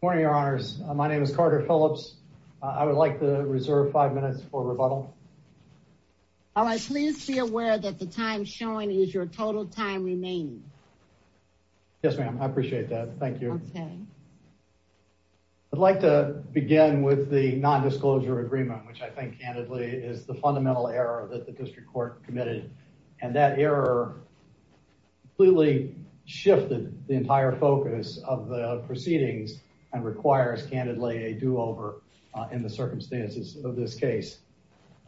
Good morning, Your Honors. My name is Carter Phillips. I would like to reserve five minutes for rebuttal. All right. Please be aware that the time showing is your total time remaining. Yes, ma'am. I appreciate that. Thank you. Okay. I'd like to begin with the non-disclosure agreement, which I think, candidly, is the fundamental error that the district court committed. And that error completely shifted the entire focus of the proceedings and requires, candidly, a do-over in the circumstances of this case.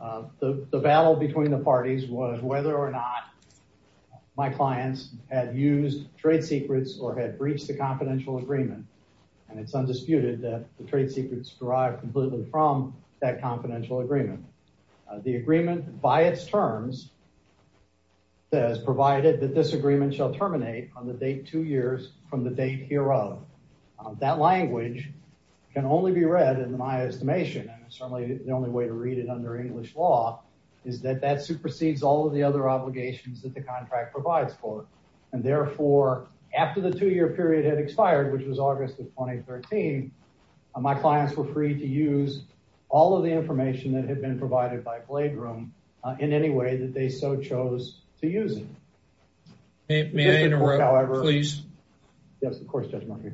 The battle between the parties was whether or not my clients had used trade secrets or had breached the confidential agreement. And it's undisputed that the trade secrets derived completely from that confidential agreement. The agreement, by its terms, says, provided that this agreement shall terminate on the date two years from the date hereof. That language can only be read, in my estimation, and certainly the only way to read it under English law, is that that supersedes all of the other obligations that the contract provides for. And therefore, after the two-year period had expired, which was August 2013, my clients were free to use all of the information that had been provided by Bladrum in any way that they so chose to use it. May I interrupt, please? Yes, of course, Judge Murphy.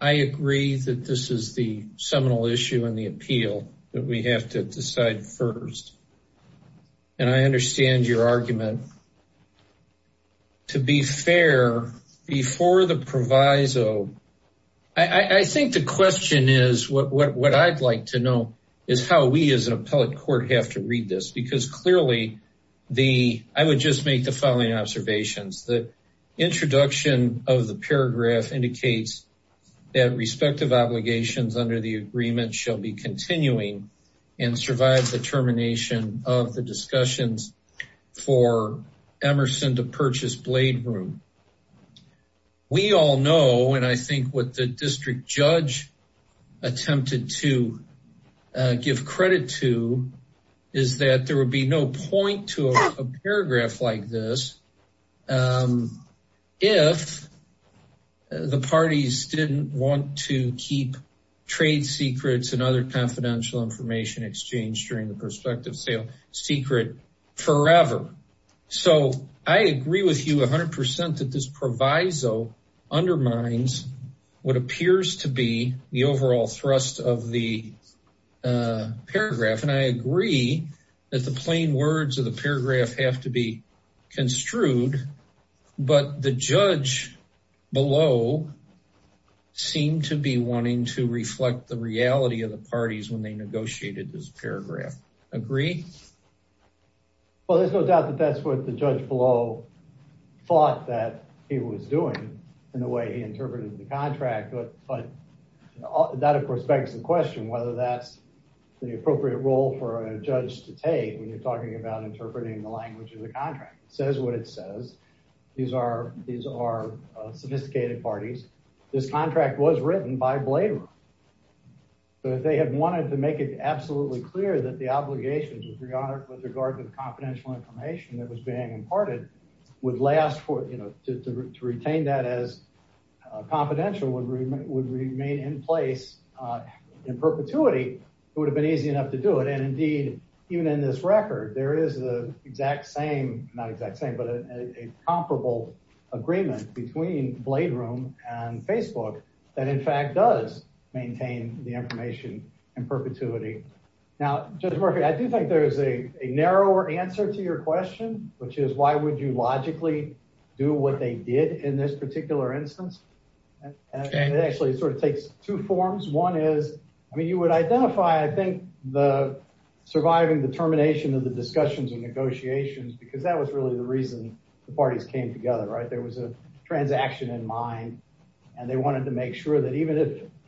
I agree that this is the seminal issue in the appeal that we have to decide first. And I understand your argument. To be fair, before the proviso, I think the question is, what I'd like to know, is how we, as an appellate court, have to read this. Because clearly, I would just make the following observations. The introduction of the paragraph indicates that respective obligations under the termination of the discussions for Emerson to purchase Bladrum. We all know, and I think what the district judge attempted to give credit to, is that there would be no point to a paragraph like this if the parties didn't want to keep trade secrets and other confidential information exchanged during the prospective sale secret forever. So, I agree with you 100% that this proviso undermines what appears to be the overall thrust of the paragraph. And I agree that the plain words of the paragraph have to be construed, but the judge below seemed to be wanting to reflect the reality of the parties when they negotiated this paragraph. Agree? Well, there's no doubt that that's what the judge below thought that he was doing in the way he interpreted the contract, but that of course begs the question whether that's the appropriate role for a judge to take when you're talking about interpreting the language of the contract. Says what it says. These are sophisticated parties. This contract was written by Bladrum, so if they had wanted to make it absolutely clear that the obligations with regard to the confidential information that was being imparted would last for, you know, to retain that as confidential would remain in place in perpetuity, it would have been easy enough to do it. And indeed, even in this record, there is the exact same, not exact same, but a comparable agreement between Bladrum and Facebook that in fact does maintain the information in perpetuity. Now, Judge Murphy, I do think there's a narrower answer to your question, which is why would you logically do what they did in this particular instance? And it actually sort of takes two forms. One is, I mean, you would identify, I think, the surviving determination of the discussions and negotiations because that was really the reason the parties came together, right? There was a transaction in mind and they wanted to make sure that even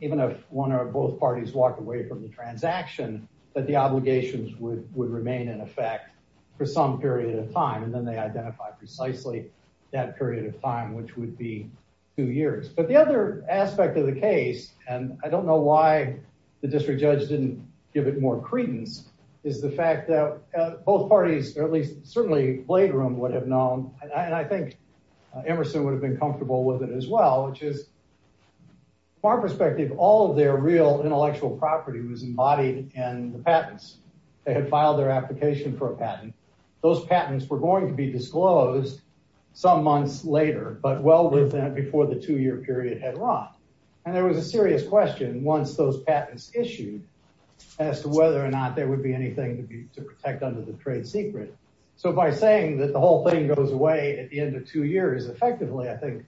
if one or both parties walked away from the transaction, that the obligations would remain in effect for some period of time. And then they identify precisely that period of time, which would be two years. But the other aspect of the case, and I don't know why the district judge didn't give it more credence, is the fact that both parties, or at least certainly Bladrum would have known, and I think Emerson would have been comfortable with it as well, which is from our perspective, all of their real intellectual property was embodied in the patents. They had filed their application for a patent. Those patents were going to be disclosed some months later, but well before the two-year period had run. And there was a serious question once those patents issued as to whether or not there would be anything to protect under the trade secret. So by saying that the whole thing goes away at the end of two years, effectively, I think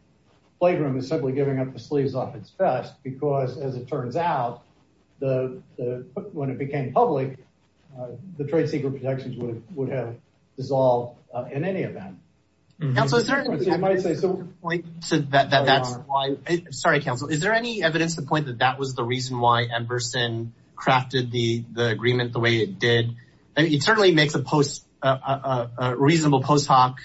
Bladrum is simply giving up the sleeves off its vest because, as it turns out, when it became public, the trade secret protections would have dissolved in any event. Counsel, is there any evidence to the point that that was the reason why Emerson crafted the agreement the way it did? It certainly makes a reasonable post hoc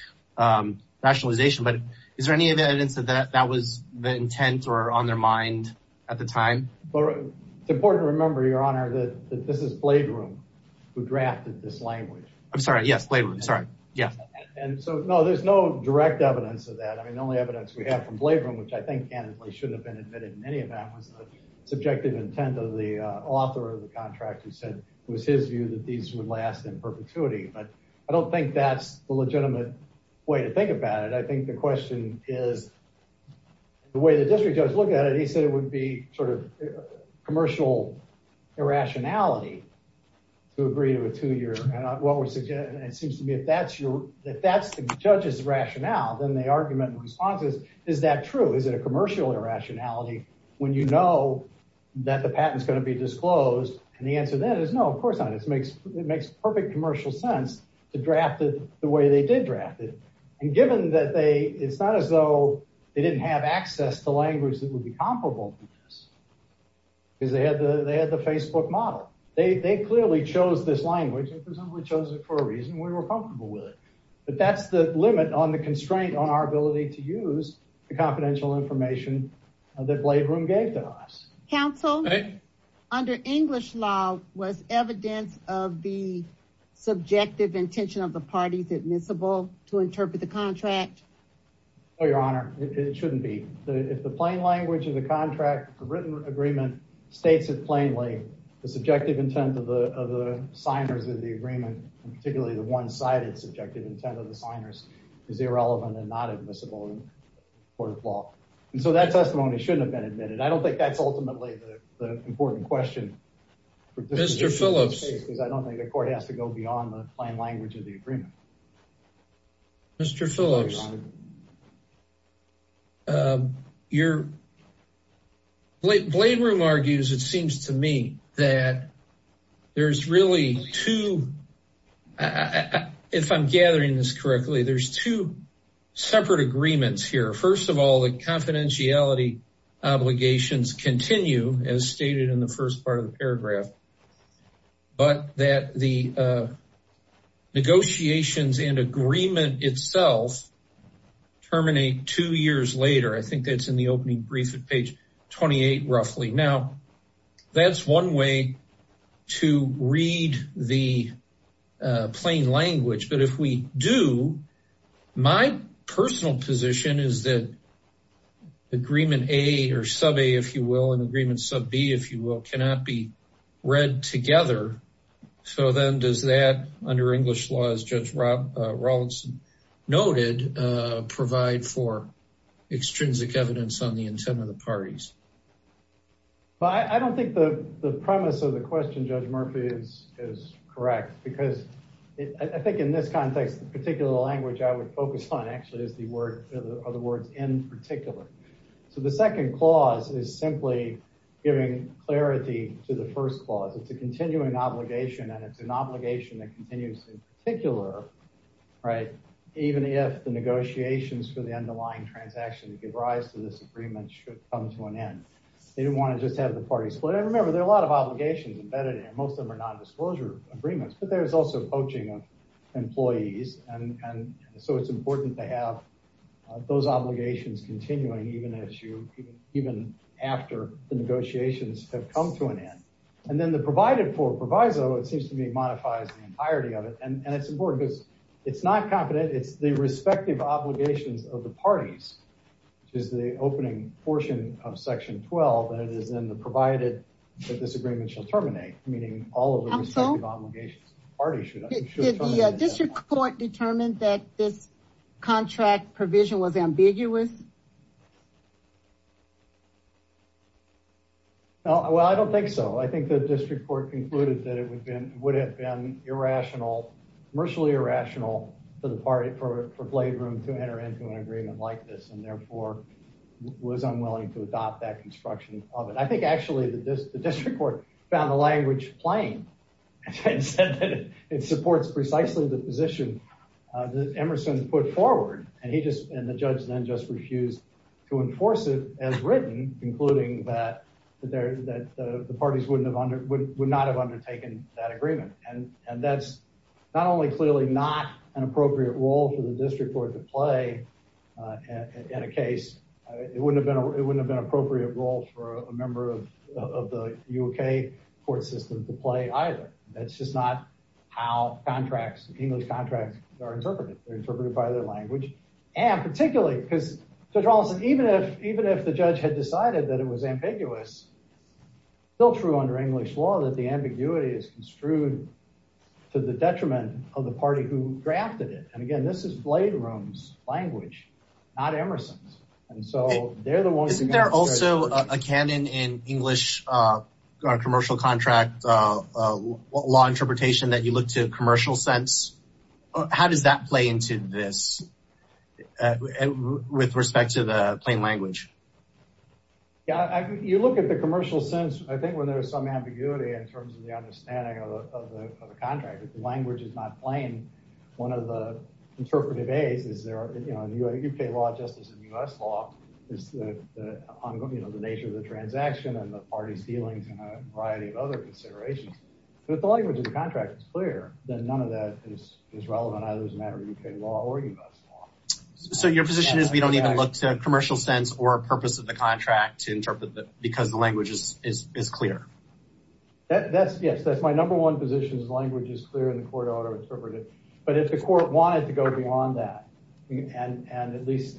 rationalization, but is there any evidence that that was the intent or on their mind at the time? It's important to remember, your honor, that this is Bladrum who drafted this language. I'm sorry. Yes, Bladrum. Sorry. Yes. And so, no, there's no direct evidence of that. I mean, the only evidence we have from Bladrum, which I think candidly shouldn't have been admitted in any event was the subjective intent of the author of the contract who said it was his view that these would last in perpetuity. But I don't think that's the legitimate way to think about it. I think the question is the way the district judge looked at it. He said it would be sort of commercial irrationality to agree to a two-year. And it seems to me if that's the judge's rationale, then the argument in response is, is that true? Is it a commercial irrationality when you know that the patent is going to be disclosed? And the answer then is no, of course not. It makes perfect commercial sense to draft it the way they did draft it. And given that it's not as though they didn't have access to language that would be comparable to this. Because they had the, they had the Facebook model. They clearly chose this language and presumably chose it for a reason we were comfortable with it. But that's the limit on the constraint on our ability to use the confidential information that Bladrum gave to us. Counsel, under English law was evidence of the subjective intention of the parties admissible to interpret the contract? Oh, your honor, it shouldn't be. If the plain language of the contract, the written agreement states it plainly, the subjective intent of the signers of the agreement and particularly the one-sided subjective intent of the signers is irrelevant and not admissible in court of law. And so that testimony shouldn't have been admitted. I don't think that's ultimately the important question. Mr. Phillips. Because I don't think the court has to go beyond the plain language of the agreement. Mr. Phillips, your, Bladrum argues, it seems to me, that there's really two, if I'm gathering this correctly, there's two separate agreements here. First of all, the confidentiality obligations continue as stated in the first part of the negotiations and agreement itself terminate two years later. I think that's in the opening brief at page 28, roughly. Now that's one way to read the plain language. But if we do, my personal position is that agreement A or sub-A, if you will, and agreement sub-B, if you will, cannot be together. So then does that, under English laws, Judge Rawlinson noted, provide for extrinsic evidence on the intent of the parties? Well, I don't think the premise of the question, Judge Murphy, is correct because I think in this context, the particular language I would focus on actually is the word, are the words in particular. So the second clause is simply giving clarity to the first clause. It's a continuing obligation and it's an obligation that continues in particular, right, even if the negotiations for the underlying transaction to give rise to this agreement should come to an end. They didn't want to just have the parties split. And remember, there are a lot of obligations embedded in here. Most of them are non-disclosure agreements, but there's also poaching of employees. And so it's important to have those obligations continuing even after the negotiations have come to an end. And then the provided for proviso, it seems to me, modifies the entirety of it. And it's important because it's not confident, it's the respective obligations of the parties, which is the opening portion of section 12, and it is in the provided that this agreement shall terminate, meaning all of the respective obligations of the parties should terminate. Did the district court determine that this agreement should be terminated? Well, I don't think so. I think the district court concluded that it would have been irrational, commercially irrational for the party, for Blade Room to enter into an agreement like this, and therefore was unwilling to adopt that construction of it. I think actually the district court found the language plain and said that it supports precisely the position that Emerson put forward, and the judge then just refused to enforce it as written, concluding that the parties would not have undertaken that agreement. And that's not only clearly not an appropriate role for the district court to play in a case, it wouldn't have been an appropriate role for a member of the UK court system to play either. That's just not how contracts, English contracts, are interpreted. They're interpreted by their language, and particularly because Judge Rollinson, even if the judge had decided that it was ambiguous, still true under English law that the ambiguity is construed to the detriment of the party who drafted it. And again, this is Blade Room's language, not Emerson's, and so they're the ones- Is there also a canon in English commercial contract law interpretation that you look to commercial sense? How does that play into this with respect to the plain language? Yeah, you look at the commercial sense, I think, when there's some ambiguity in terms of the understanding of the contract. If the language is not plain, one of the interpretive A's is there, UK law, justice, and US law is the nature of the transaction, and the party's dealings, and a variety of other considerations. But if the language of the contract is clear, then none of that is relevant either as a matter of UK law or US law. So your position is we don't even look to commercial sense or purpose of the contract to interpret that because the language is clear? Yes, that's my number one position, is language is clear and the court ought to interpret it. But if the court wanted to go beyond that and at least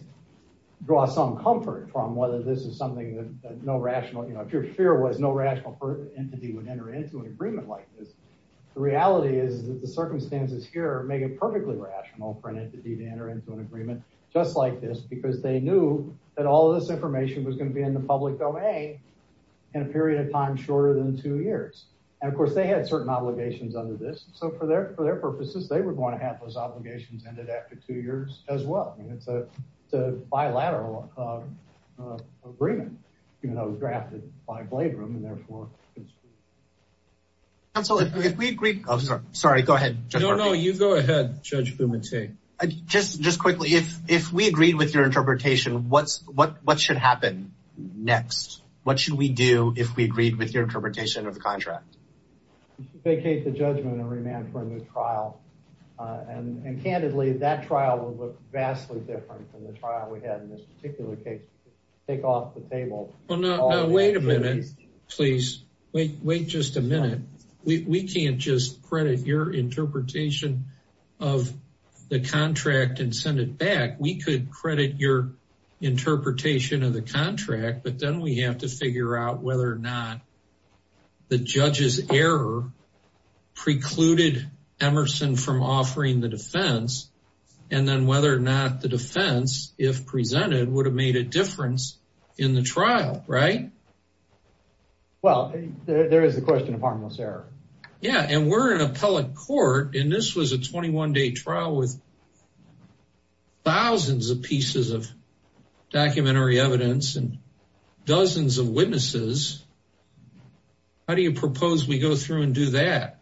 draw some comfort from whether this is something that no rational, you know, if your fear was no rational entity would enter into an agreement like this, the reality is that the circumstances here make it perfectly rational for an entity to enter into an agreement just like this because they knew that all of this information was going to be in the public domain in a period of time shorter than two years. And of course, they had certain obligations under this. So for their purposes, they were going to have those obligations ended after two years as well. And it's a bilateral agreement, you know, drafted by Bladrum and therefore, it's... Counselor, if we agreed... Oh, sorry, go ahead. No, no, you go ahead, Judge Bumate. Just quickly, if we agreed with your interpretation, what should happen next? What should we do if we agreed with your interpretation of the contract? Vacate the judgment and remand for a new trial. And candidly, that trial would look vastly different from the trial we had in this particular case. Take off the table. Well, no, no, wait a minute, please. Wait just a minute. We can't just credit your interpretation of the contract and send it back. We could credit your interpretation of the contract, but then we have to figure out whether or not the judge's error precluded Emerson from offering the defense, and then whether or not the defense, if presented, would have made a difference in the trial, right? Well, there is a question of harmless error. Yeah, and we're an appellate court, and this was a 21-day trial with thousands of pieces of documentary evidence and dozens of witnesses. How do you propose we go through and do that?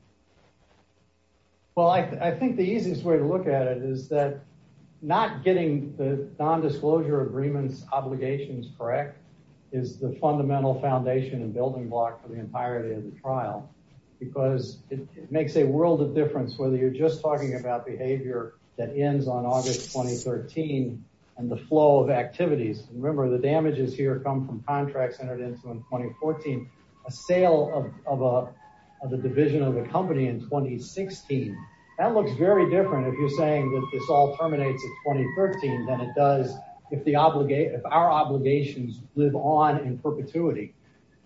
Well, I think the easiest way to look at it is that not getting the nondisclosure agreements obligations correct is the fundamental foundation and building block for the entirety of the trial, because it makes a world of difference whether you're just talking about behavior that ends on August 2013 and the flow of activities. Remember, the damages here come from contracts entered into in 2014, a sale of the division of the company in 2016. That looks very different if you're saying that this all terminates in 2013 than it does if our obligations live on in perpetuity.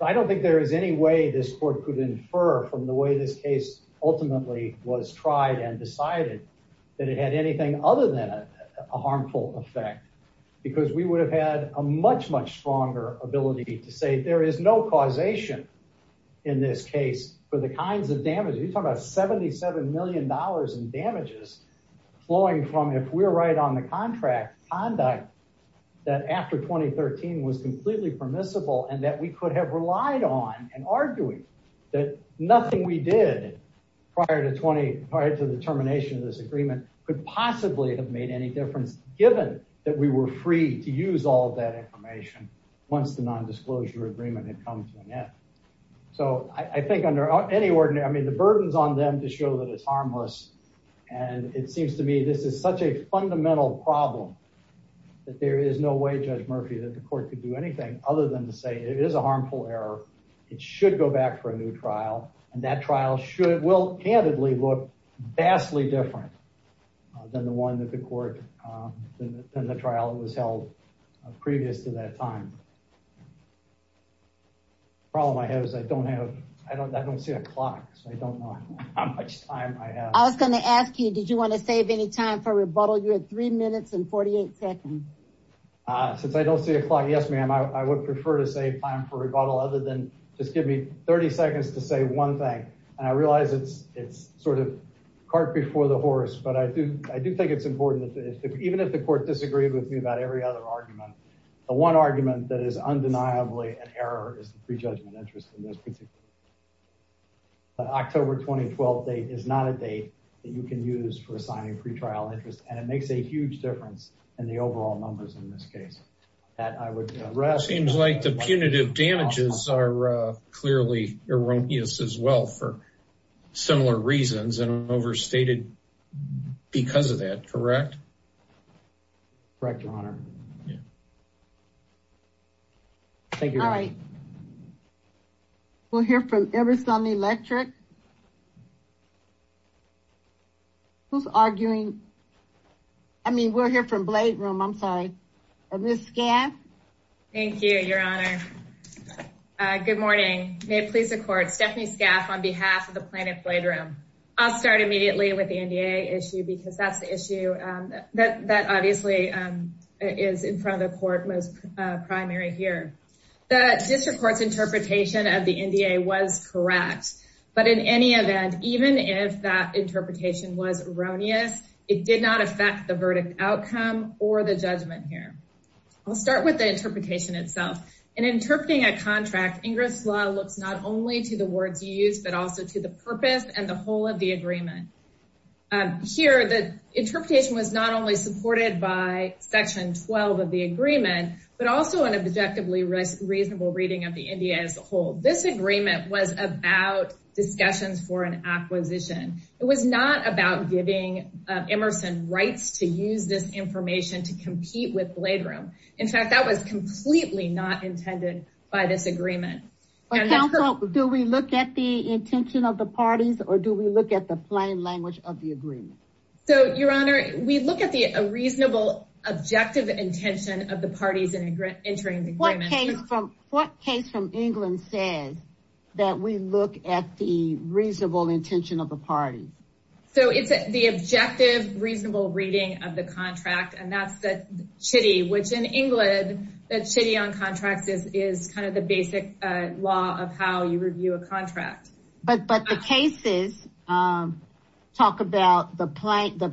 I don't think there is any way this court could infer from the way this case ultimately was tried and decided that it had anything other than a harmful effect, because we would have had a much, much stronger ability to say there is no causation in this case for the kinds of damages. You're talking about $77 million in damages flowing from, if we're right on the contract, conduct that after 2013 was completely permissible and that we could have relied on and argued that nothing we did prior to the termination of this agreement could possibly have made any difference given that we were free to use all of that information once the nondisclosure agreement had come to an end. So I think under any ordinary, I mean, the burden's on them to show that it's harmless and it seems to me this is such a fundamental problem that there is no way, Judge Murphy, that the court could do anything other than to say it is a harmful error. It should go back for a new trial and that trial should, will candidly look vastly different than the one that the court, than the trial that was held previous to that time. Problem I have is I don't have, I don't see a clock, so I don't know how much time I have. I was going to ask you, did you want to save any time for rebuttal? You had three minutes and 48 seconds. Since I don't see a clock, yes ma'am, I would prefer to save time for rebuttal other than just give me 30 seconds to say one thing and I realize it's sort of cart before the horse, but I do think it's important that even if the court disagreed with me about every other argument, the one argument that is undeniably an error is the prejudgment interest in this particular October 2012 date is not a date that you can use for assigning pretrial interest and it makes a lot of numbers in this case. Seems like the punitive damages are clearly erroneous as well for similar reasons and overstated because of that, correct? Correct, your honor. Thank you. All right, we'll hear from Everson Electric. Who's arguing? I mean, we're here from Bladeroom, I'm sorry, and Ms. Scaff. Thank you, your honor. Good morning. May it please the court, Stephanie Scaff on behalf of the plaintiff Bladeroom. I'll start immediately with the NDA issue because that's the issue that obviously is in front of the court, most primary here. The district court's interpretation of the NDA was correct, but it's in any event, even if that interpretation was erroneous, it did not affect the verdict outcome or the judgment here. I'll start with the interpretation itself. In interpreting a contract, Ingress law looks not only to the words you use, but also to the purpose and the whole of the agreement. Here, the interpretation was not only supported by section 12 of the agreement, but also an objectively reasonable reading of the NDA as a whole. This agreement was about discussions for an acquisition. It was not about giving Emerson rights to use this information to compete with Bladeroom. In fact, that was completely not intended by this agreement. Do we look at the intention of the parties or do we look at the plain language of the agreement? So, your honor, we look at the reasonable, objective intention of the parties entering the agreement. What case from England says that we look at the reasonable intention of the parties? So, it's the objective, reasonable reading of the contract, and that's the chitty, which in England, the chitty on contracts is kind of the basic law of how you review a contract. But the cases talk about the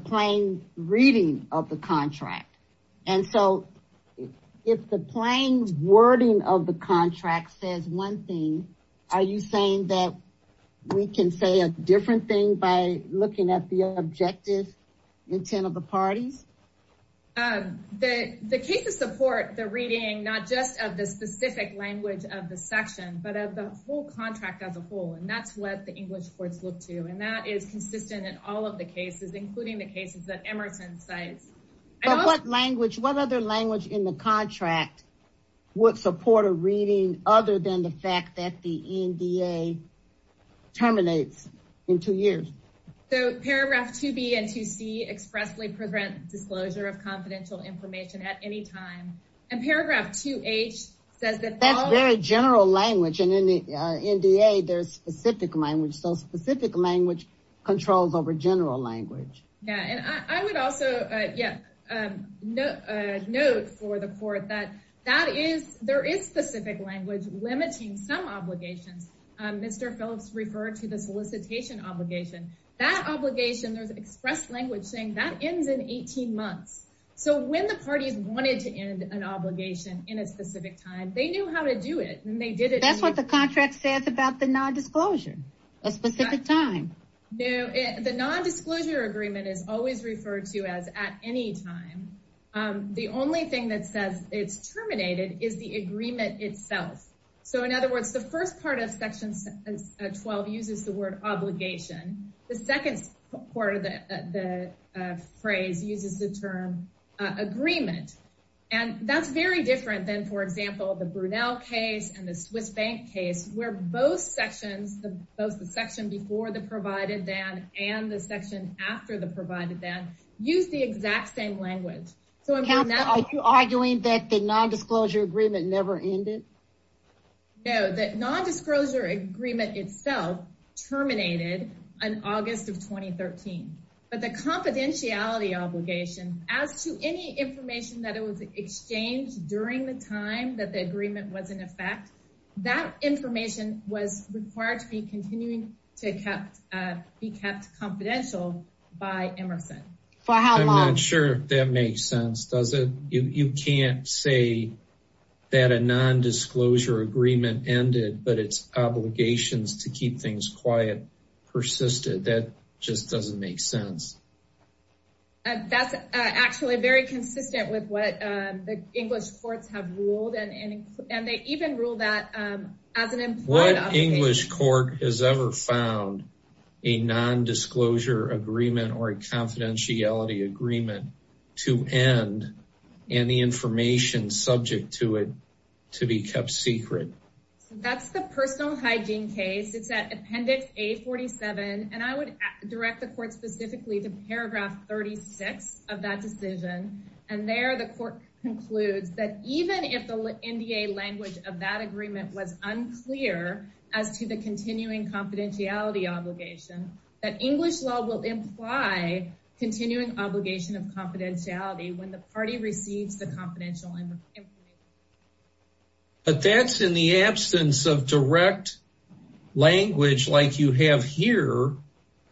plain reading of the contract. And so, if the plain wording of the contract says one thing, are you saying that we can say a different thing by looking at the objective intent of the parties? The cases support the reading, not just of the specific language of the section, but of the whole contract as a whole. And that's what the English courts look to. And that is consistent in all of the cases, including the cases that Emerson cites. But what language, what other language in the contract would support a reading other than the fact that the NDA terminates in two years? So, paragraph 2B and 2C expressly prevent disclosure of confidential information at any time. And paragraph 2H says that- That's very general language. And in the NDA, there's specific language. So, specific language controls over general language. Yeah. And I would also, yeah, note for the court that there is specific language limiting some obligations. Mr. Phillips referred to the solicitation obligation. That obligation, there's express language saying that ends in 18 months. So, when the parties wanted to end an obligation in a specific time, they knew how to do it. And they did it- That's what the contract says about the non-disclosure, a specific time. No, the non-disclosure agreement is always referred to as at any time. The only thing that says it's terminated is the agreement itself. So, in other words, the first part of section 12 uses the word obligation. The second part of the phrase uses the term agreement. And that's very different than, for example, the Brunel case and the Swiss bank case, where both sections, both the section before the provided then and the section after the provided then, use the exact same language. So, in Brunel- The non-disclosure agreement itself terminated in August of 2013. But the confidentiality obligation, as to any information that was exchanged during the time that the agreement was in effect, that information was required to be kept confidential by Emerson. For how long? I'm not saying that a non-disclosure agreement ended, but it's obligations to keep things quiet persisted. That just doesn't make sense. That's actually very consistent with what the English courts have ruled. And they even rule that as an implied obligation- What English court has ever found a non-disclosure agreement or a confidentiality agreement to end and the information subject to it to be kept secret. That's the personal hygiene case. It's at appendix A47. And I would direct the court specifically to paragraph 36 of that decision. And there the court concludes that even if the NDA language of that agreement was unclear as to the continuing confidentiality obligation, that English law will imply continuing obligation of confidentiality when the party receives the confidential information. But that's in the absence of direct language like you have here,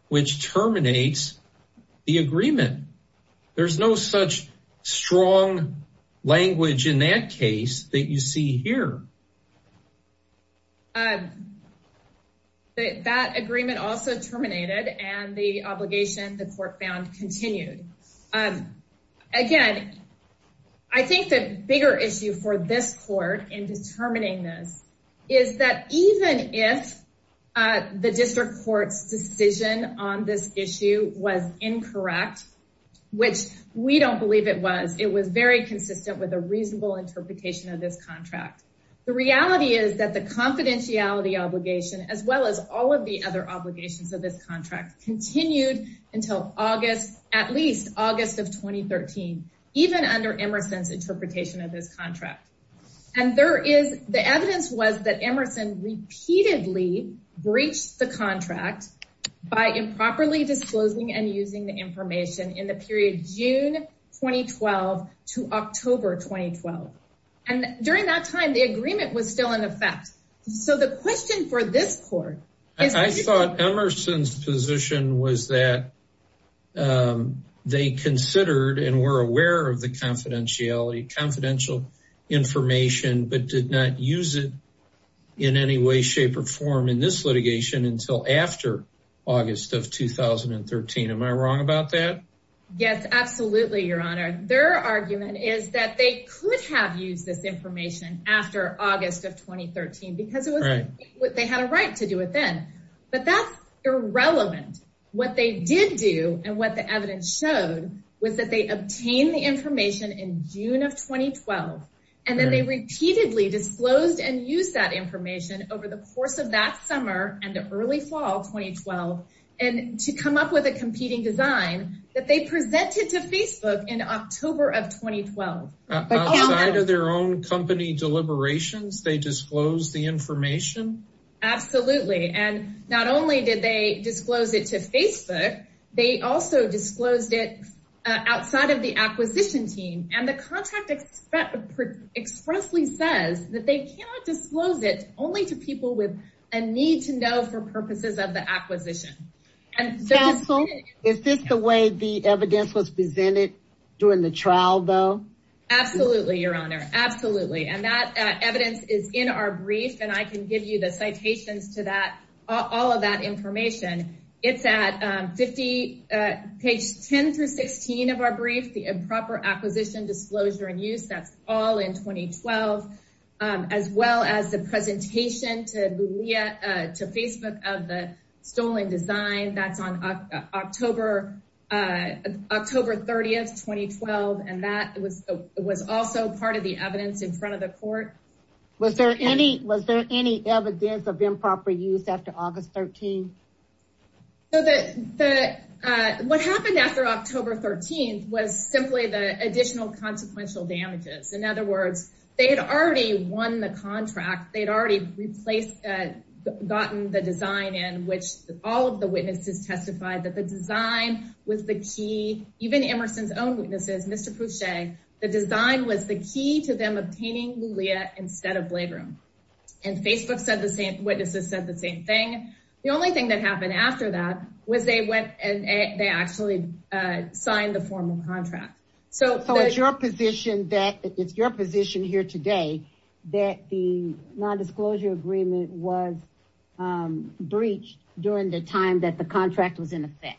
which terminates the agreement. There's no such strong language in that case that you see here. That agreement also terminated and the obligation the court found continued. Again, I think the bigger issue for this court in determining this is that even if the district court's decision on this issue was incorrect, which we don't believe it was, it was very consistent with a reasonable interpretation of this contract. The reality is that the confidentiality obligation, as well as all of the other obligations of this contract, continued until at least August of 2013, even under Emerson's interpretation of this contract. And the evidence was that Emerson repeatedly breached the contract by improperly disclosing and using the information in the period June 2012 to October 2012. And during that time, the agreement was still in effect. So the question for this court is... I thought Emerson's position was that they considered and were aware of the confidentiality, confidential information, but did not use it in any way, shape, or form in this litigation until after August of 2013. Am I wrong about that? Yes, absolutely, Your Honor. Their argument is that they could have used this information after August of 2013 because they had a right to do it then. But that's irrelevant. What they did do and what the evidence showed was that they obtained the information in June of 2012, and then they repeatedly disclosed and used that information over the course of that summer and early fall 2012 to come up with a competing design that they presented to Facebook in October of 2012. Outside of their own company deliberations, they disclosed the information? Absolutely. And not only did they disclose it to Facebook, they also disclosed it outside of the acquisition team. And the contract expressly says that they cannot disclose it only to people with a need to know for purposes of the acquisition. Is this the way the evidence was presented during the trial, though? Absolutely, Your Honor. Absolutely. And that evidence is in our brief, and I can give you the citations to all of that information. It's at page 10 through 16 of our brief, the improper acquisition, disclosure, and use. That's all in 2012, as well as the presentation to Facebook of the stolen design. That's on October 30, 2012. And that was also part of the evidence in front of the court. Was there any evidence of improper use after August 13? So what happened after October 13 was simply the additional consequential damages. In other words, they had already won the contract. They had already replaced, gotten the design in, which all of the witnesses testified that the design was the key. Even Emerson's own witnesses, Mr. Pouchet, the design was the key to them obtaining Lulea instead of Bladerim. And witnesses said the same thing. The only thing that happened after that was they went and they actually signed the formal contract. So it's your position here today that the nondisclosure agreement was breached during the time that the contract was in effect?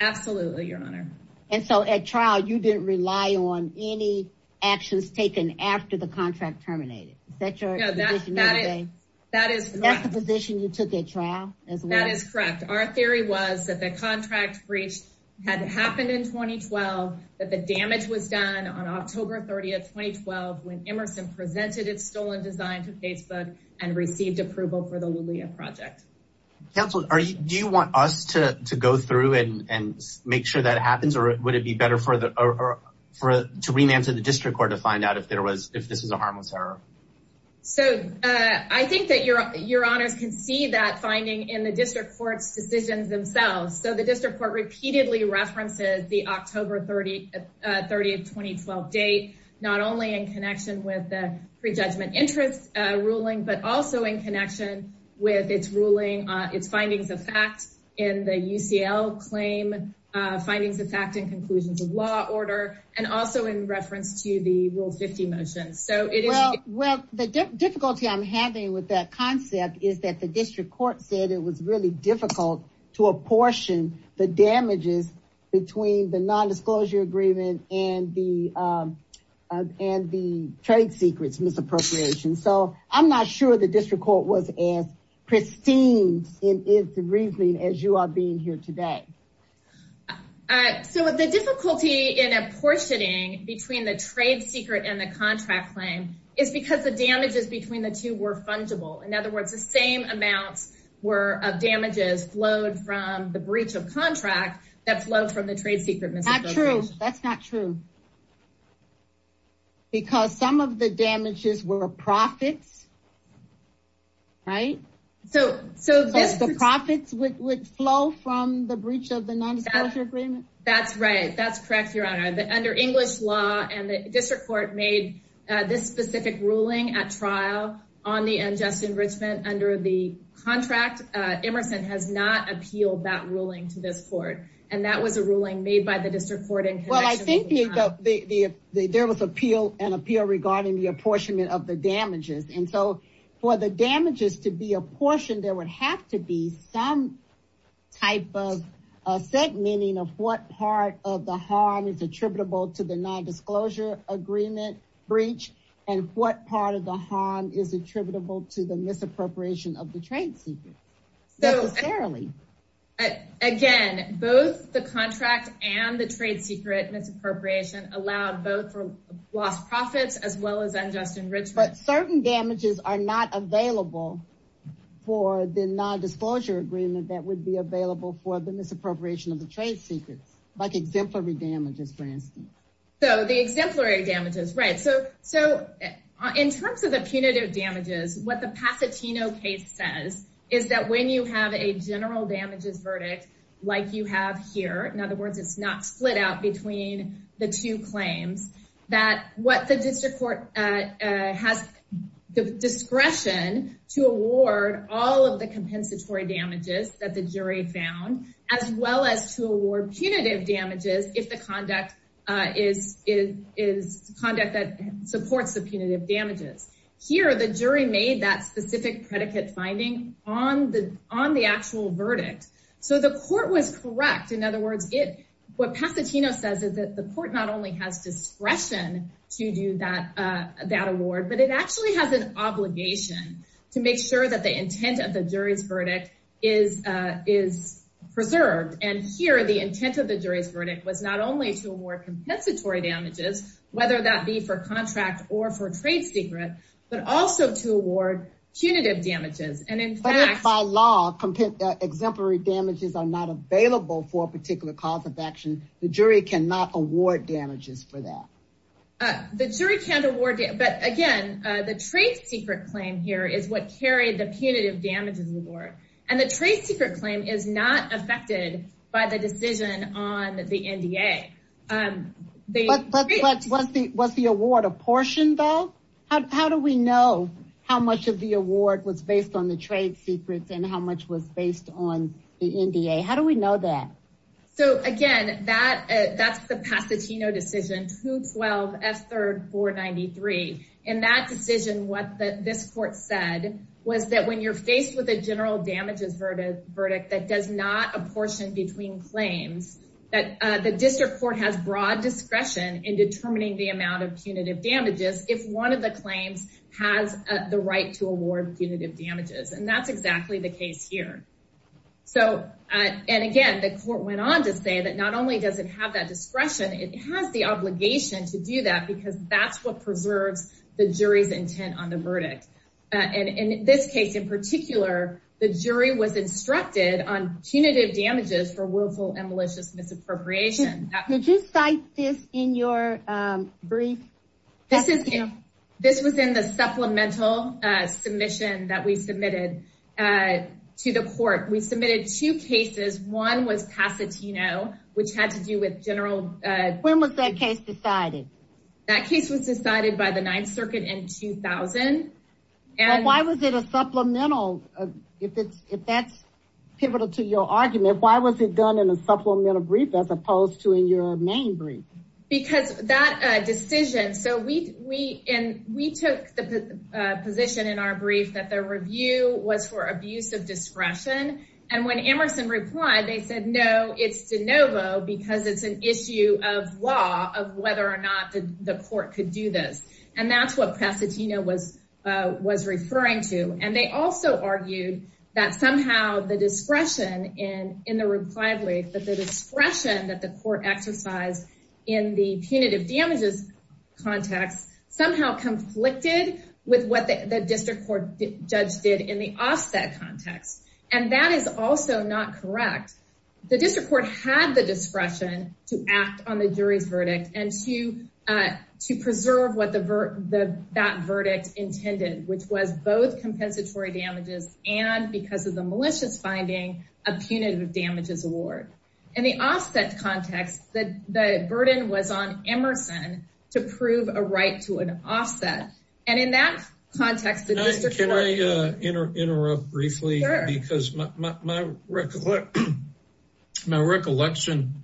Absolutely, Your Honor. And so at trial, you didn't rely on any actions taken after the contract terminated. Is that the position you took at trial? That is correct. Our theory was that the contract breach had happened in 2012, that the damage was done on October 30, 2012, when Emerson presented its stolen design to Facebook and received approval for the Lulea project. Counsel, do you want us to go through and make sure that happens? Or would it be better for us to remand to the district court to find out if this was a harmless error? So I think that Your Honors can see that finding in the district court's decisions themselves. So the district court repeatedly references the October 30, 2012 date, not only in connection with the prejudgment interest ruling, but also in connection with its findings of fact in the UCL claim, findings of fact and conclusions of law order, and also in reference to the Rule 50 motion. Well, the difficulty I'm having with that concept is that the district court said it was really difficult to apportion the damages between the nondisclosure agreement and the trade secrets misappropriation. So I'm not sure the district court was as pristine in its reasoning as you are being here today. So the difficulty in apportioning between the trade secret and the contract claim is because the damages between the two were fungible. In other words, the same amounts were of damages flowed from the breach of contract that flowed from the trade secret. That's not true. That's not true. Because some of the damages were profits. Right? So the profits would flow from the breach of the nondisclosure agreement? That's right. That's correct, Your Honor. Under English law, and the district court made this specific ruling at trial on the unjust enrichment under the contract, Emerson has not appealed that ruling to this court. And that was a ruling made by the district court in connection. Well, I think there was appeal and appeal regarding the apportionment of the damages and so for the damages to be apportioned, there would have to be some type of segmenting of what part of the harm is attributable to the nondisclosure agreement breach. And what part of the harm is attributable to the misappropriation of the trade secret? So fairly, again, both the contract and the trade secret misappropriation allowed both for lost profits as well as unjust enrichment. But certain damages are not available for the nondisclosure agreement that would be available for the misappropriation of the trade secrets, like exemplary damages, for instance. So the exemplary damages, right. So in terms of the punitive damages, what the Pasatino case says is that when you have a general damages verdict, like you have here, in other words, it's not split out between the two claims that what the district court has the discretion to award all of the compensatory damages that the jury found, as well as to award punitive damages if the conduct is conduct that supports the punitive damages. Here, the jury made that specific predicate finding on the actual verdict. So the court was correct. In other words, what Pasatino says is that the court not only has discretion to do that award, but it actually has an obligation to make sure that the intent of the jury's verdict is preserved. And here, the intent of the jury's verdict was not only to award compensatory damages, whether that be for contract or for trade secret, but also to by law, exemplary damages are not available for a particular cause of action. The jury cannot award damages for that. The jury can't award it. But again, the trade secret claim here is what carried the punitive damages reward. And the trade secret claim is not affected by the decision on the NDA. But was the award apportioned, though? How do we know how much of the award was based on the trade secrets and how much was based on the NDA? How do we know that? So again, that's the Pasatino decision, 2-12-F-3-493. In that decision, what this court said was that when you're faced with a general damages verdict that does not apportion between claims, that the district court has broad discretion in determining the amount of punitive damages if one of the claims has the right to award punitive damages. And that's exactly the case here. And again, the court went on to say that not only does it have that discretion, it has the obligation to do that because that's what the jury was instructed on punitive damages for willful and malicious misappropriation. Could you cite this in your brief? This was in the supplemental submission that we submitted to the court. We submitted two cases. One was Pasatino, which had to do with general... When was that case decided? That case was decided by the Ninth Circuit in 2000. Why was it a supplemental? If that's pivotal to your argument, why was it done in a supplemental brief as opposed to in your main brief? Because that decision... So we took the position in our brief that the review was for abuse of discretion. And when Emerson replied, they said, no, it's de novo because it's an issue of law of whether or not the court could do this. And that's what Pasatino was referring to. And they also argued that somehow the discretion in the reply brief, that the discretion that the court exercised in the punitive damages context somehow conflicted with what the district court judge did in the offset context. And that is also not correct. The district court had the discretion to act on the jury's verdict and to preserve what that verdict intended, which was both compensatory damages and because of the malicious finding, a punitive damages award. In the offset context, the burden was on Emerson to prove a right to an offset. And in that context... Can I interrupt briefly because my recollection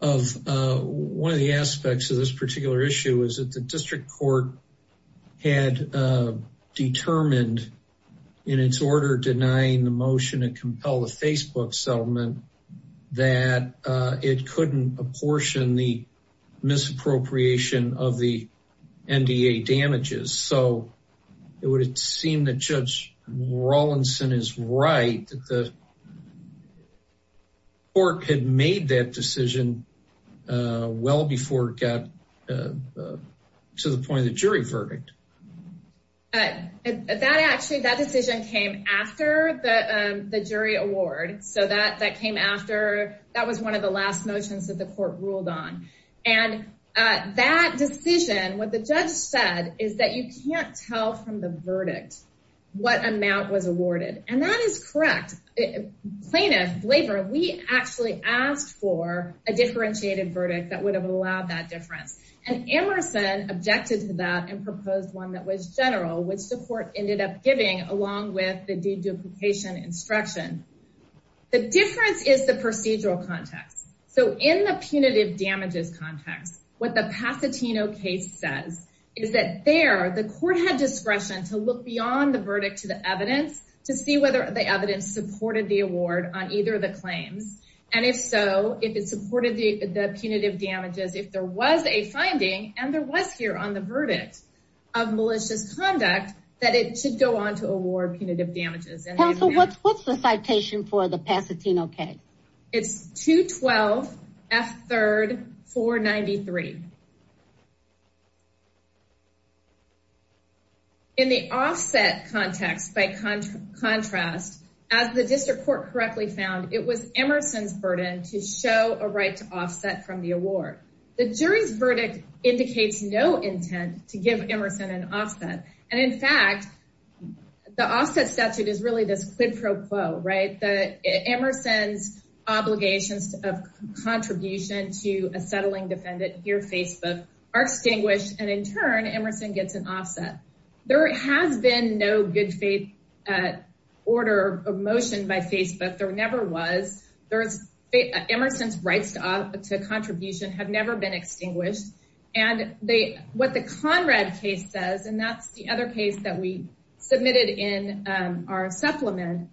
of one of the court had determined in its order denying the motion to compel the Facebook settlement, that it couldn't apportion the misappropriation of the NDA damages. So it would seem that Judge Rawlinson is right that the court had made that decision well before it got to the point of the jury verdict. That actually, that decision came after the jury award. So that came after, that was one of the last motions that the court ruled on. And that decision, what the judge said is that you can't tell from the verdict what amount was awarded. And that is correct. Plaintiff, we actually asked for a differentiated verdict that would have allowed that difference. And Emerson objected to that and proposed one that was general, which the court ended up giving along with the deduplication instruction. The difference is the procedural context. So in the punitive damages context, what the Pasatino case says is that there, the court had discretion to look beyond the verdict to the evidence to see whether the evidence supported the award on either of the claims. And if so, if it supported the punitive damages, if there was a finding and there was here on the verdict of malicious conduct, that it should go on to award punitive damages. Counsel, what's the citation for the Pasatino case? It's 212 F 3rd 493. Okay. In the offset context by contrast, as the district court correctly found, it was Emerson's burden to show a right to offset from the award. The jury's verdict indicates no intent to give Emerson an offset. And in fact, the offset statute is really this quid pro quo, right? The Emerson's obligations of contribution to a settling defendant here, Facebook are extinguished. And in turn, Emerson gets an offset. There has been no good faith order of motion by Facebook. There never was. There's Emerson's rights to contribution have never been extinguished. And they, what the Conrad case does, and that's the other case that we submitted in our supplement,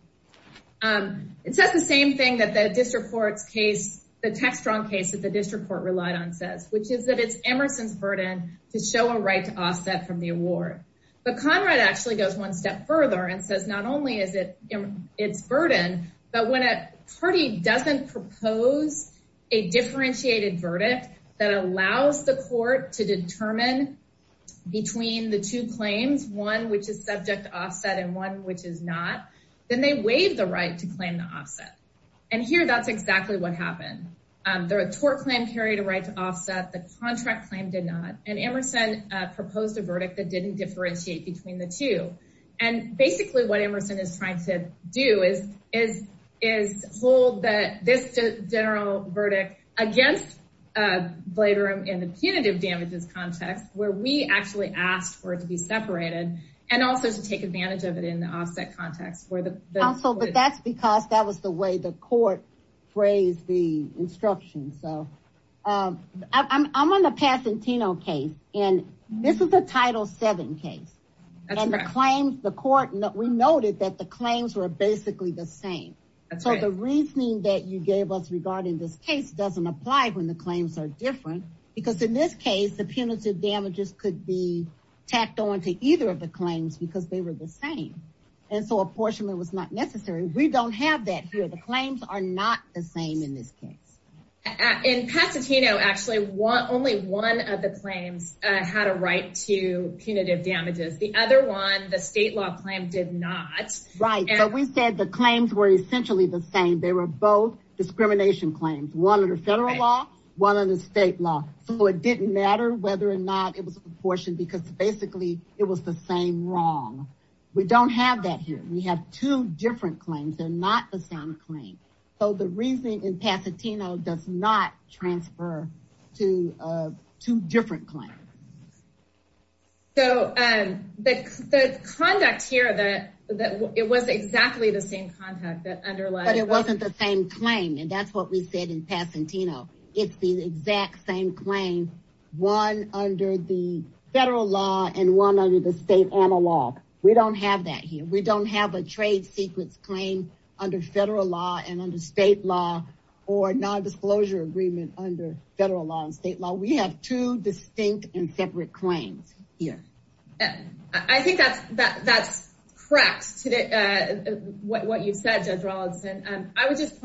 it says the same thing that the district court's case, the text wrong case that the district court relied on says, which is that it's Emerson's burden to show a right to offset from the award. But Conrad actually goes one step further and says, not only is it it's burden, but when a party doesn't propose a differentiated verdict that allows the court to determine between the two to claim the offset. And here, that's exactly what happened. The tort claim carried a right to offset. The contract claim did not. And Emerson proposed a verdict that didn't differentiate between the two. And basically what Emerson is trying to do is hold that this general verdict against Bladerim in the punitive damages context, where we actually asked for it to be separated and also to take advantage of it in the offset context. But that's because that was the way the court phrased the instructions. So I'm on the Pasatino case, and this is a Title VII case. And the claims, the court, we noted that the claims were basically the same. So the reasoning that you gave us regarding this case doesn't apply when the claims are different, because in this case, the punitive damages could be tacked on to either of the claims because they were the same. And so apportionment was not necessary. We don't have that here. The claims are not the same in this case. In Pasatino, actually, only one of the claims had a right to punitive damages. The other one, the state law claim, did not. Right. So we said the claims were essentially the same. They were both discrimination claims, one under federal law, one under state law. So it didn't matter whether or not it was apportioned because basically it was the same wrong. We don't have that here. We have two different claims. They're not the same claim. So the reasoning in Pasatino does not transfer to two different claims. So the conduct here that it was exactly the same conduct that underlies. But it wasn't the same claim. And that's what we said in Pasatino. It's the exact same claim, one under the federal law and one under the state analog. We don't have that here. We don't have a trade secrets claim under federal law and under state law or a non-disclosure agreement under federal law and state law. We have two distinct and separate claims here. I think that's correct, what you've said, Judge Rawlinson. I would just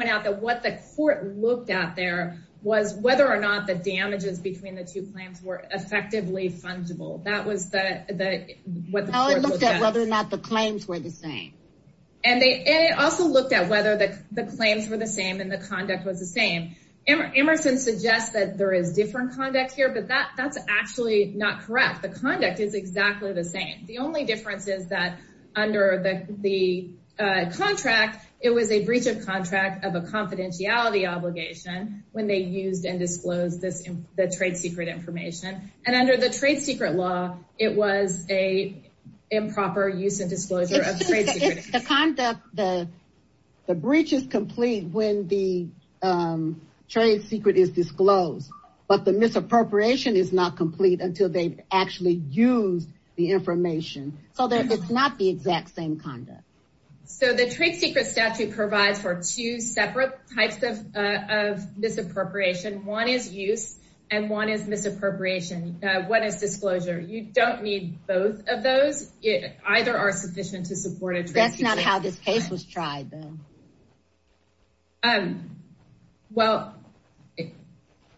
whether or not the damages between the two claims were effectively fungible. That was what the court looked at. It looked at whether or not the claims were the same. And it also looked at whether the claims were the same and the conduct was the same. Emerson suggests that there is different conduct here, but that's actually not correct. The conduct is exactly the same. The only difference is that under the contract, it was a breach of contract of a confidentiality obligation when they used and disclosed the trade secret information. And under the trade secret law, it was a improper use and disclosure of trade secrets. The conduct, the breach is complete when the trade secret is disclosed, but the misappropriation is not complete until they actually use the information. So it's not the exact same conduct. So the trade secret statute provides for two separate types of misappropriation. One is use and one is misappropriation. One is disclosure. You don't need both of those. Either are sufficient to support a trade secret. That's not how this case was tried though. Well,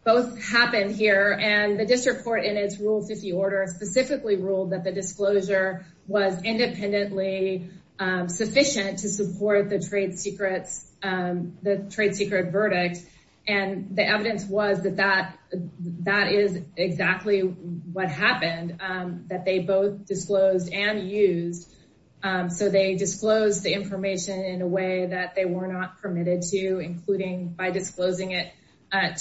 both happened here and the district court in its rule 50 order specifically ruled that the disclosure was sufficient to support the trade secrets, the trade secret verdict. And the evidence was that that is exactly what happened, that they both disclosed and used. So they disclosed the information in a way that they were not permitted to, including by disclosing it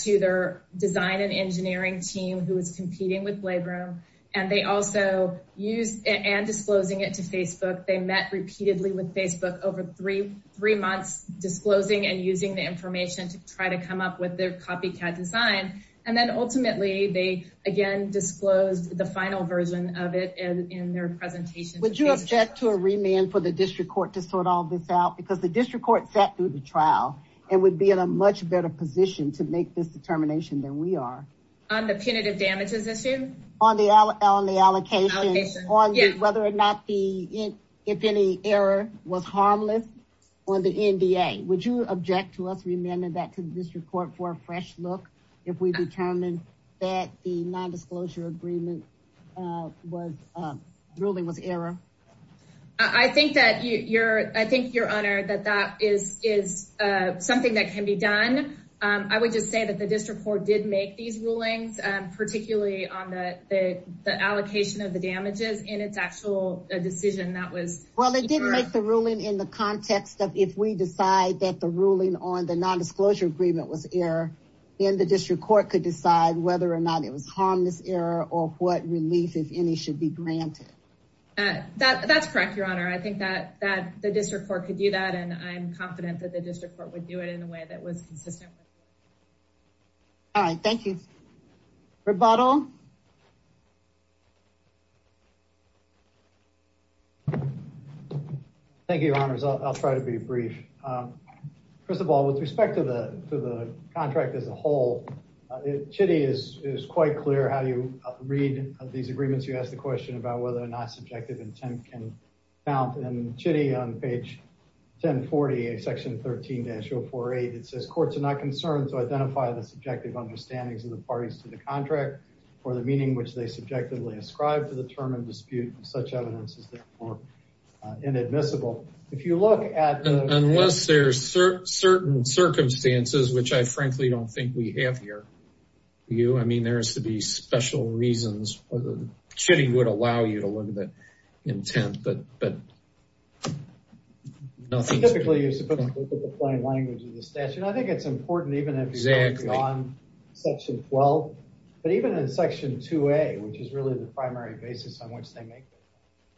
to their design and engineering team who was competing with Blabroom. And they also used and disclosing it to Facebook. They met repeatedly with Facebook over three months disclosing and using the information to try to come up with their copycat design. And then ultimately they again disclosed the final version of it in their presentation. Would you object to a remand for the district court to sort all this out? Because the district court sat through the trial and would be in a much better position to make this determination than we are. On the punitive damages issue? On the allocation, on whether or not the, if any error was harmless on the NDA. Would you object to us remanding that to the district court for a fresh look if we determine that the non-disclosure agreement was, ruling was error? I think that you're, I think your honor that that is, is something that can be done. I would just say that the district court did make these rulings, particularly on the, the allocation of the damages in its actual decision. That was, well, it didn't make the ruling in the context of if we decide that the ruling on the non-disclosure agreement was error, then the district court could decide whether or not it was harmless error or what relief, if any, should be granted. That, that's correct, your honor. I think that, that the district court could do that. And I'm confident that the district court would do it in a way that was consistent. All right. Thank you. Rebuttal. Thank you, your honors. I'll try to be brief. First of all, with respect to the, to the contract as a whole, Chitty is, is quite clear how you read these agreements. You asked the question about whether or not subjective intent can count and Chitty on page 1040, section 13-048, it says courts are not concerned to identify the subjective understandings of the parties to the contract or the meaning which they subjectively ascribe to the term and dispute of such evidence is therefore inadmissible. If you look at. Unless there's certain circumstances, which I frankly don't think we have here. You, I mean, there has to be special reasons. Chitty would allow you to I think it's important, even if it's beyond section 12, but even in section 2a, which is really the primary basis on which they make,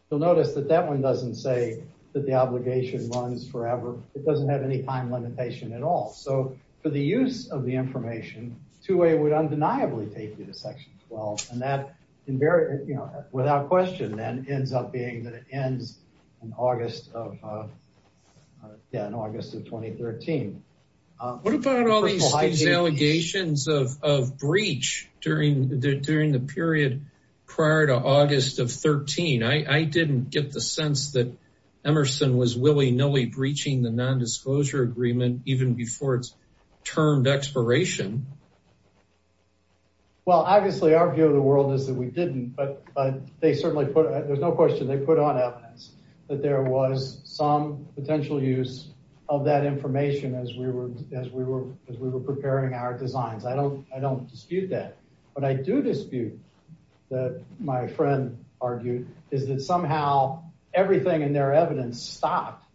you'll notice that that one doesn't say that the obligation runs forever. It doesn't have any time limitation at all. So for the use of the information, 2a would undeniably take you to section 12 and that invariant, you know, without question then ends up being that it ends in August of 2013. What about all these allegations of breach during the period prior to August of 13? I didn't get the sense that Emerson was willy-nilly breaching the nondisclosure agreement, even before it's termed expiration. Well, obviously our view of the world is that we didn't, but they certainly put, there's no question they put on evidence that there was some potential use of that information as we were, as we were, as we were preparing our designs. I don't, I don't dispute that, but I do dispute that my friend argued is that somehow everything in their evidence stopped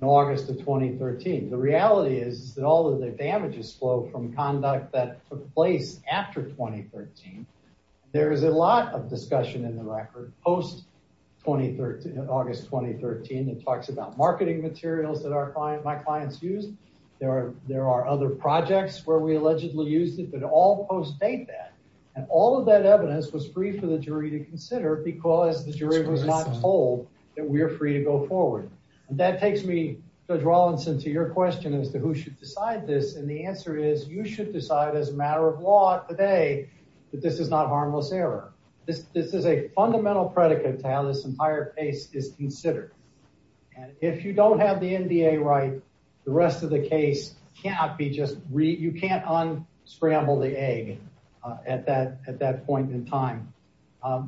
in August of 2013. The reality is that all of the damages flow from conduct that took place after 2013. There is a lot of discussion in the record post 2013, August, 2013. It talks about marketing materials that our client, my clients use. There are, there are other projects where we allegedly used it, but all post date that, and all of that evidence was free for the jury to consider because the jury was not told that we are free to go forward. And that takes me, Judge Rawlinson, to your question as to who should decide this. And the answer is you should decide as a matter of law today that this is not harmless error. This, this is a fundamental predicate to how this entire case is considered. And if you don't have the NDA right, the rest of the case cannot be just re, you can't unscramble the egg at that, at that point in time.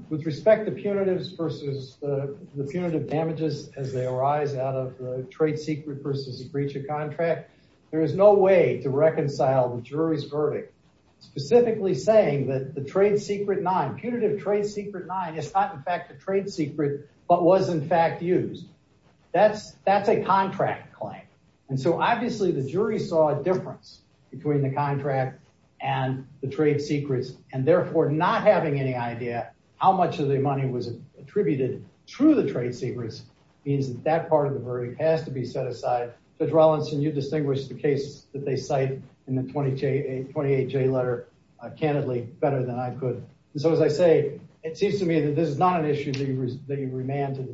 With respect to punitives versus the punitive damages as they arise out of the trade secret versus the breach of contract, there is no way to reconcile the jury's verdict, specifically saying that the trade secret nine, punitive trade secret nine, is not in fact a trade secret, but was in fact used. That's, that's a contract claim. And so obviously the jury saw a difference between the contract and the trade secrets and therefore not having any idea how much of the money was attributed through the trade secrets means that that part of the verdict has to be set aside. Judge Rawlinson, you distinguish the case that they cite in the 20J, 28J letter, uh, candidly better than I could. And so, as I say, it seems to me that this is not an issue that you, that you remand to the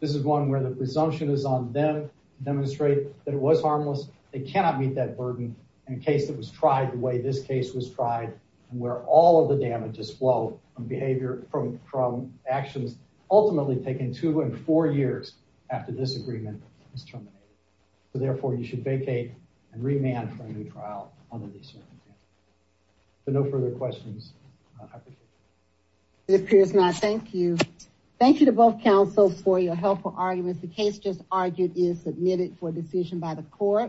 this is one where the presumption is on them to demonstrate that it was harmless. They cannot meet that burden in a case that was tried the way this case was tried and where all of the damages flow from behavior, from, from actions, ultimately taking two and four years after this agreement is terminated. So therefore you should vacate and remand for a new trial on the discernment But no further questions. I appreciate it. It appears not. Thank you. Thank you to both counsels for your helpful arguments. The case just argued is submitted for decision by the court.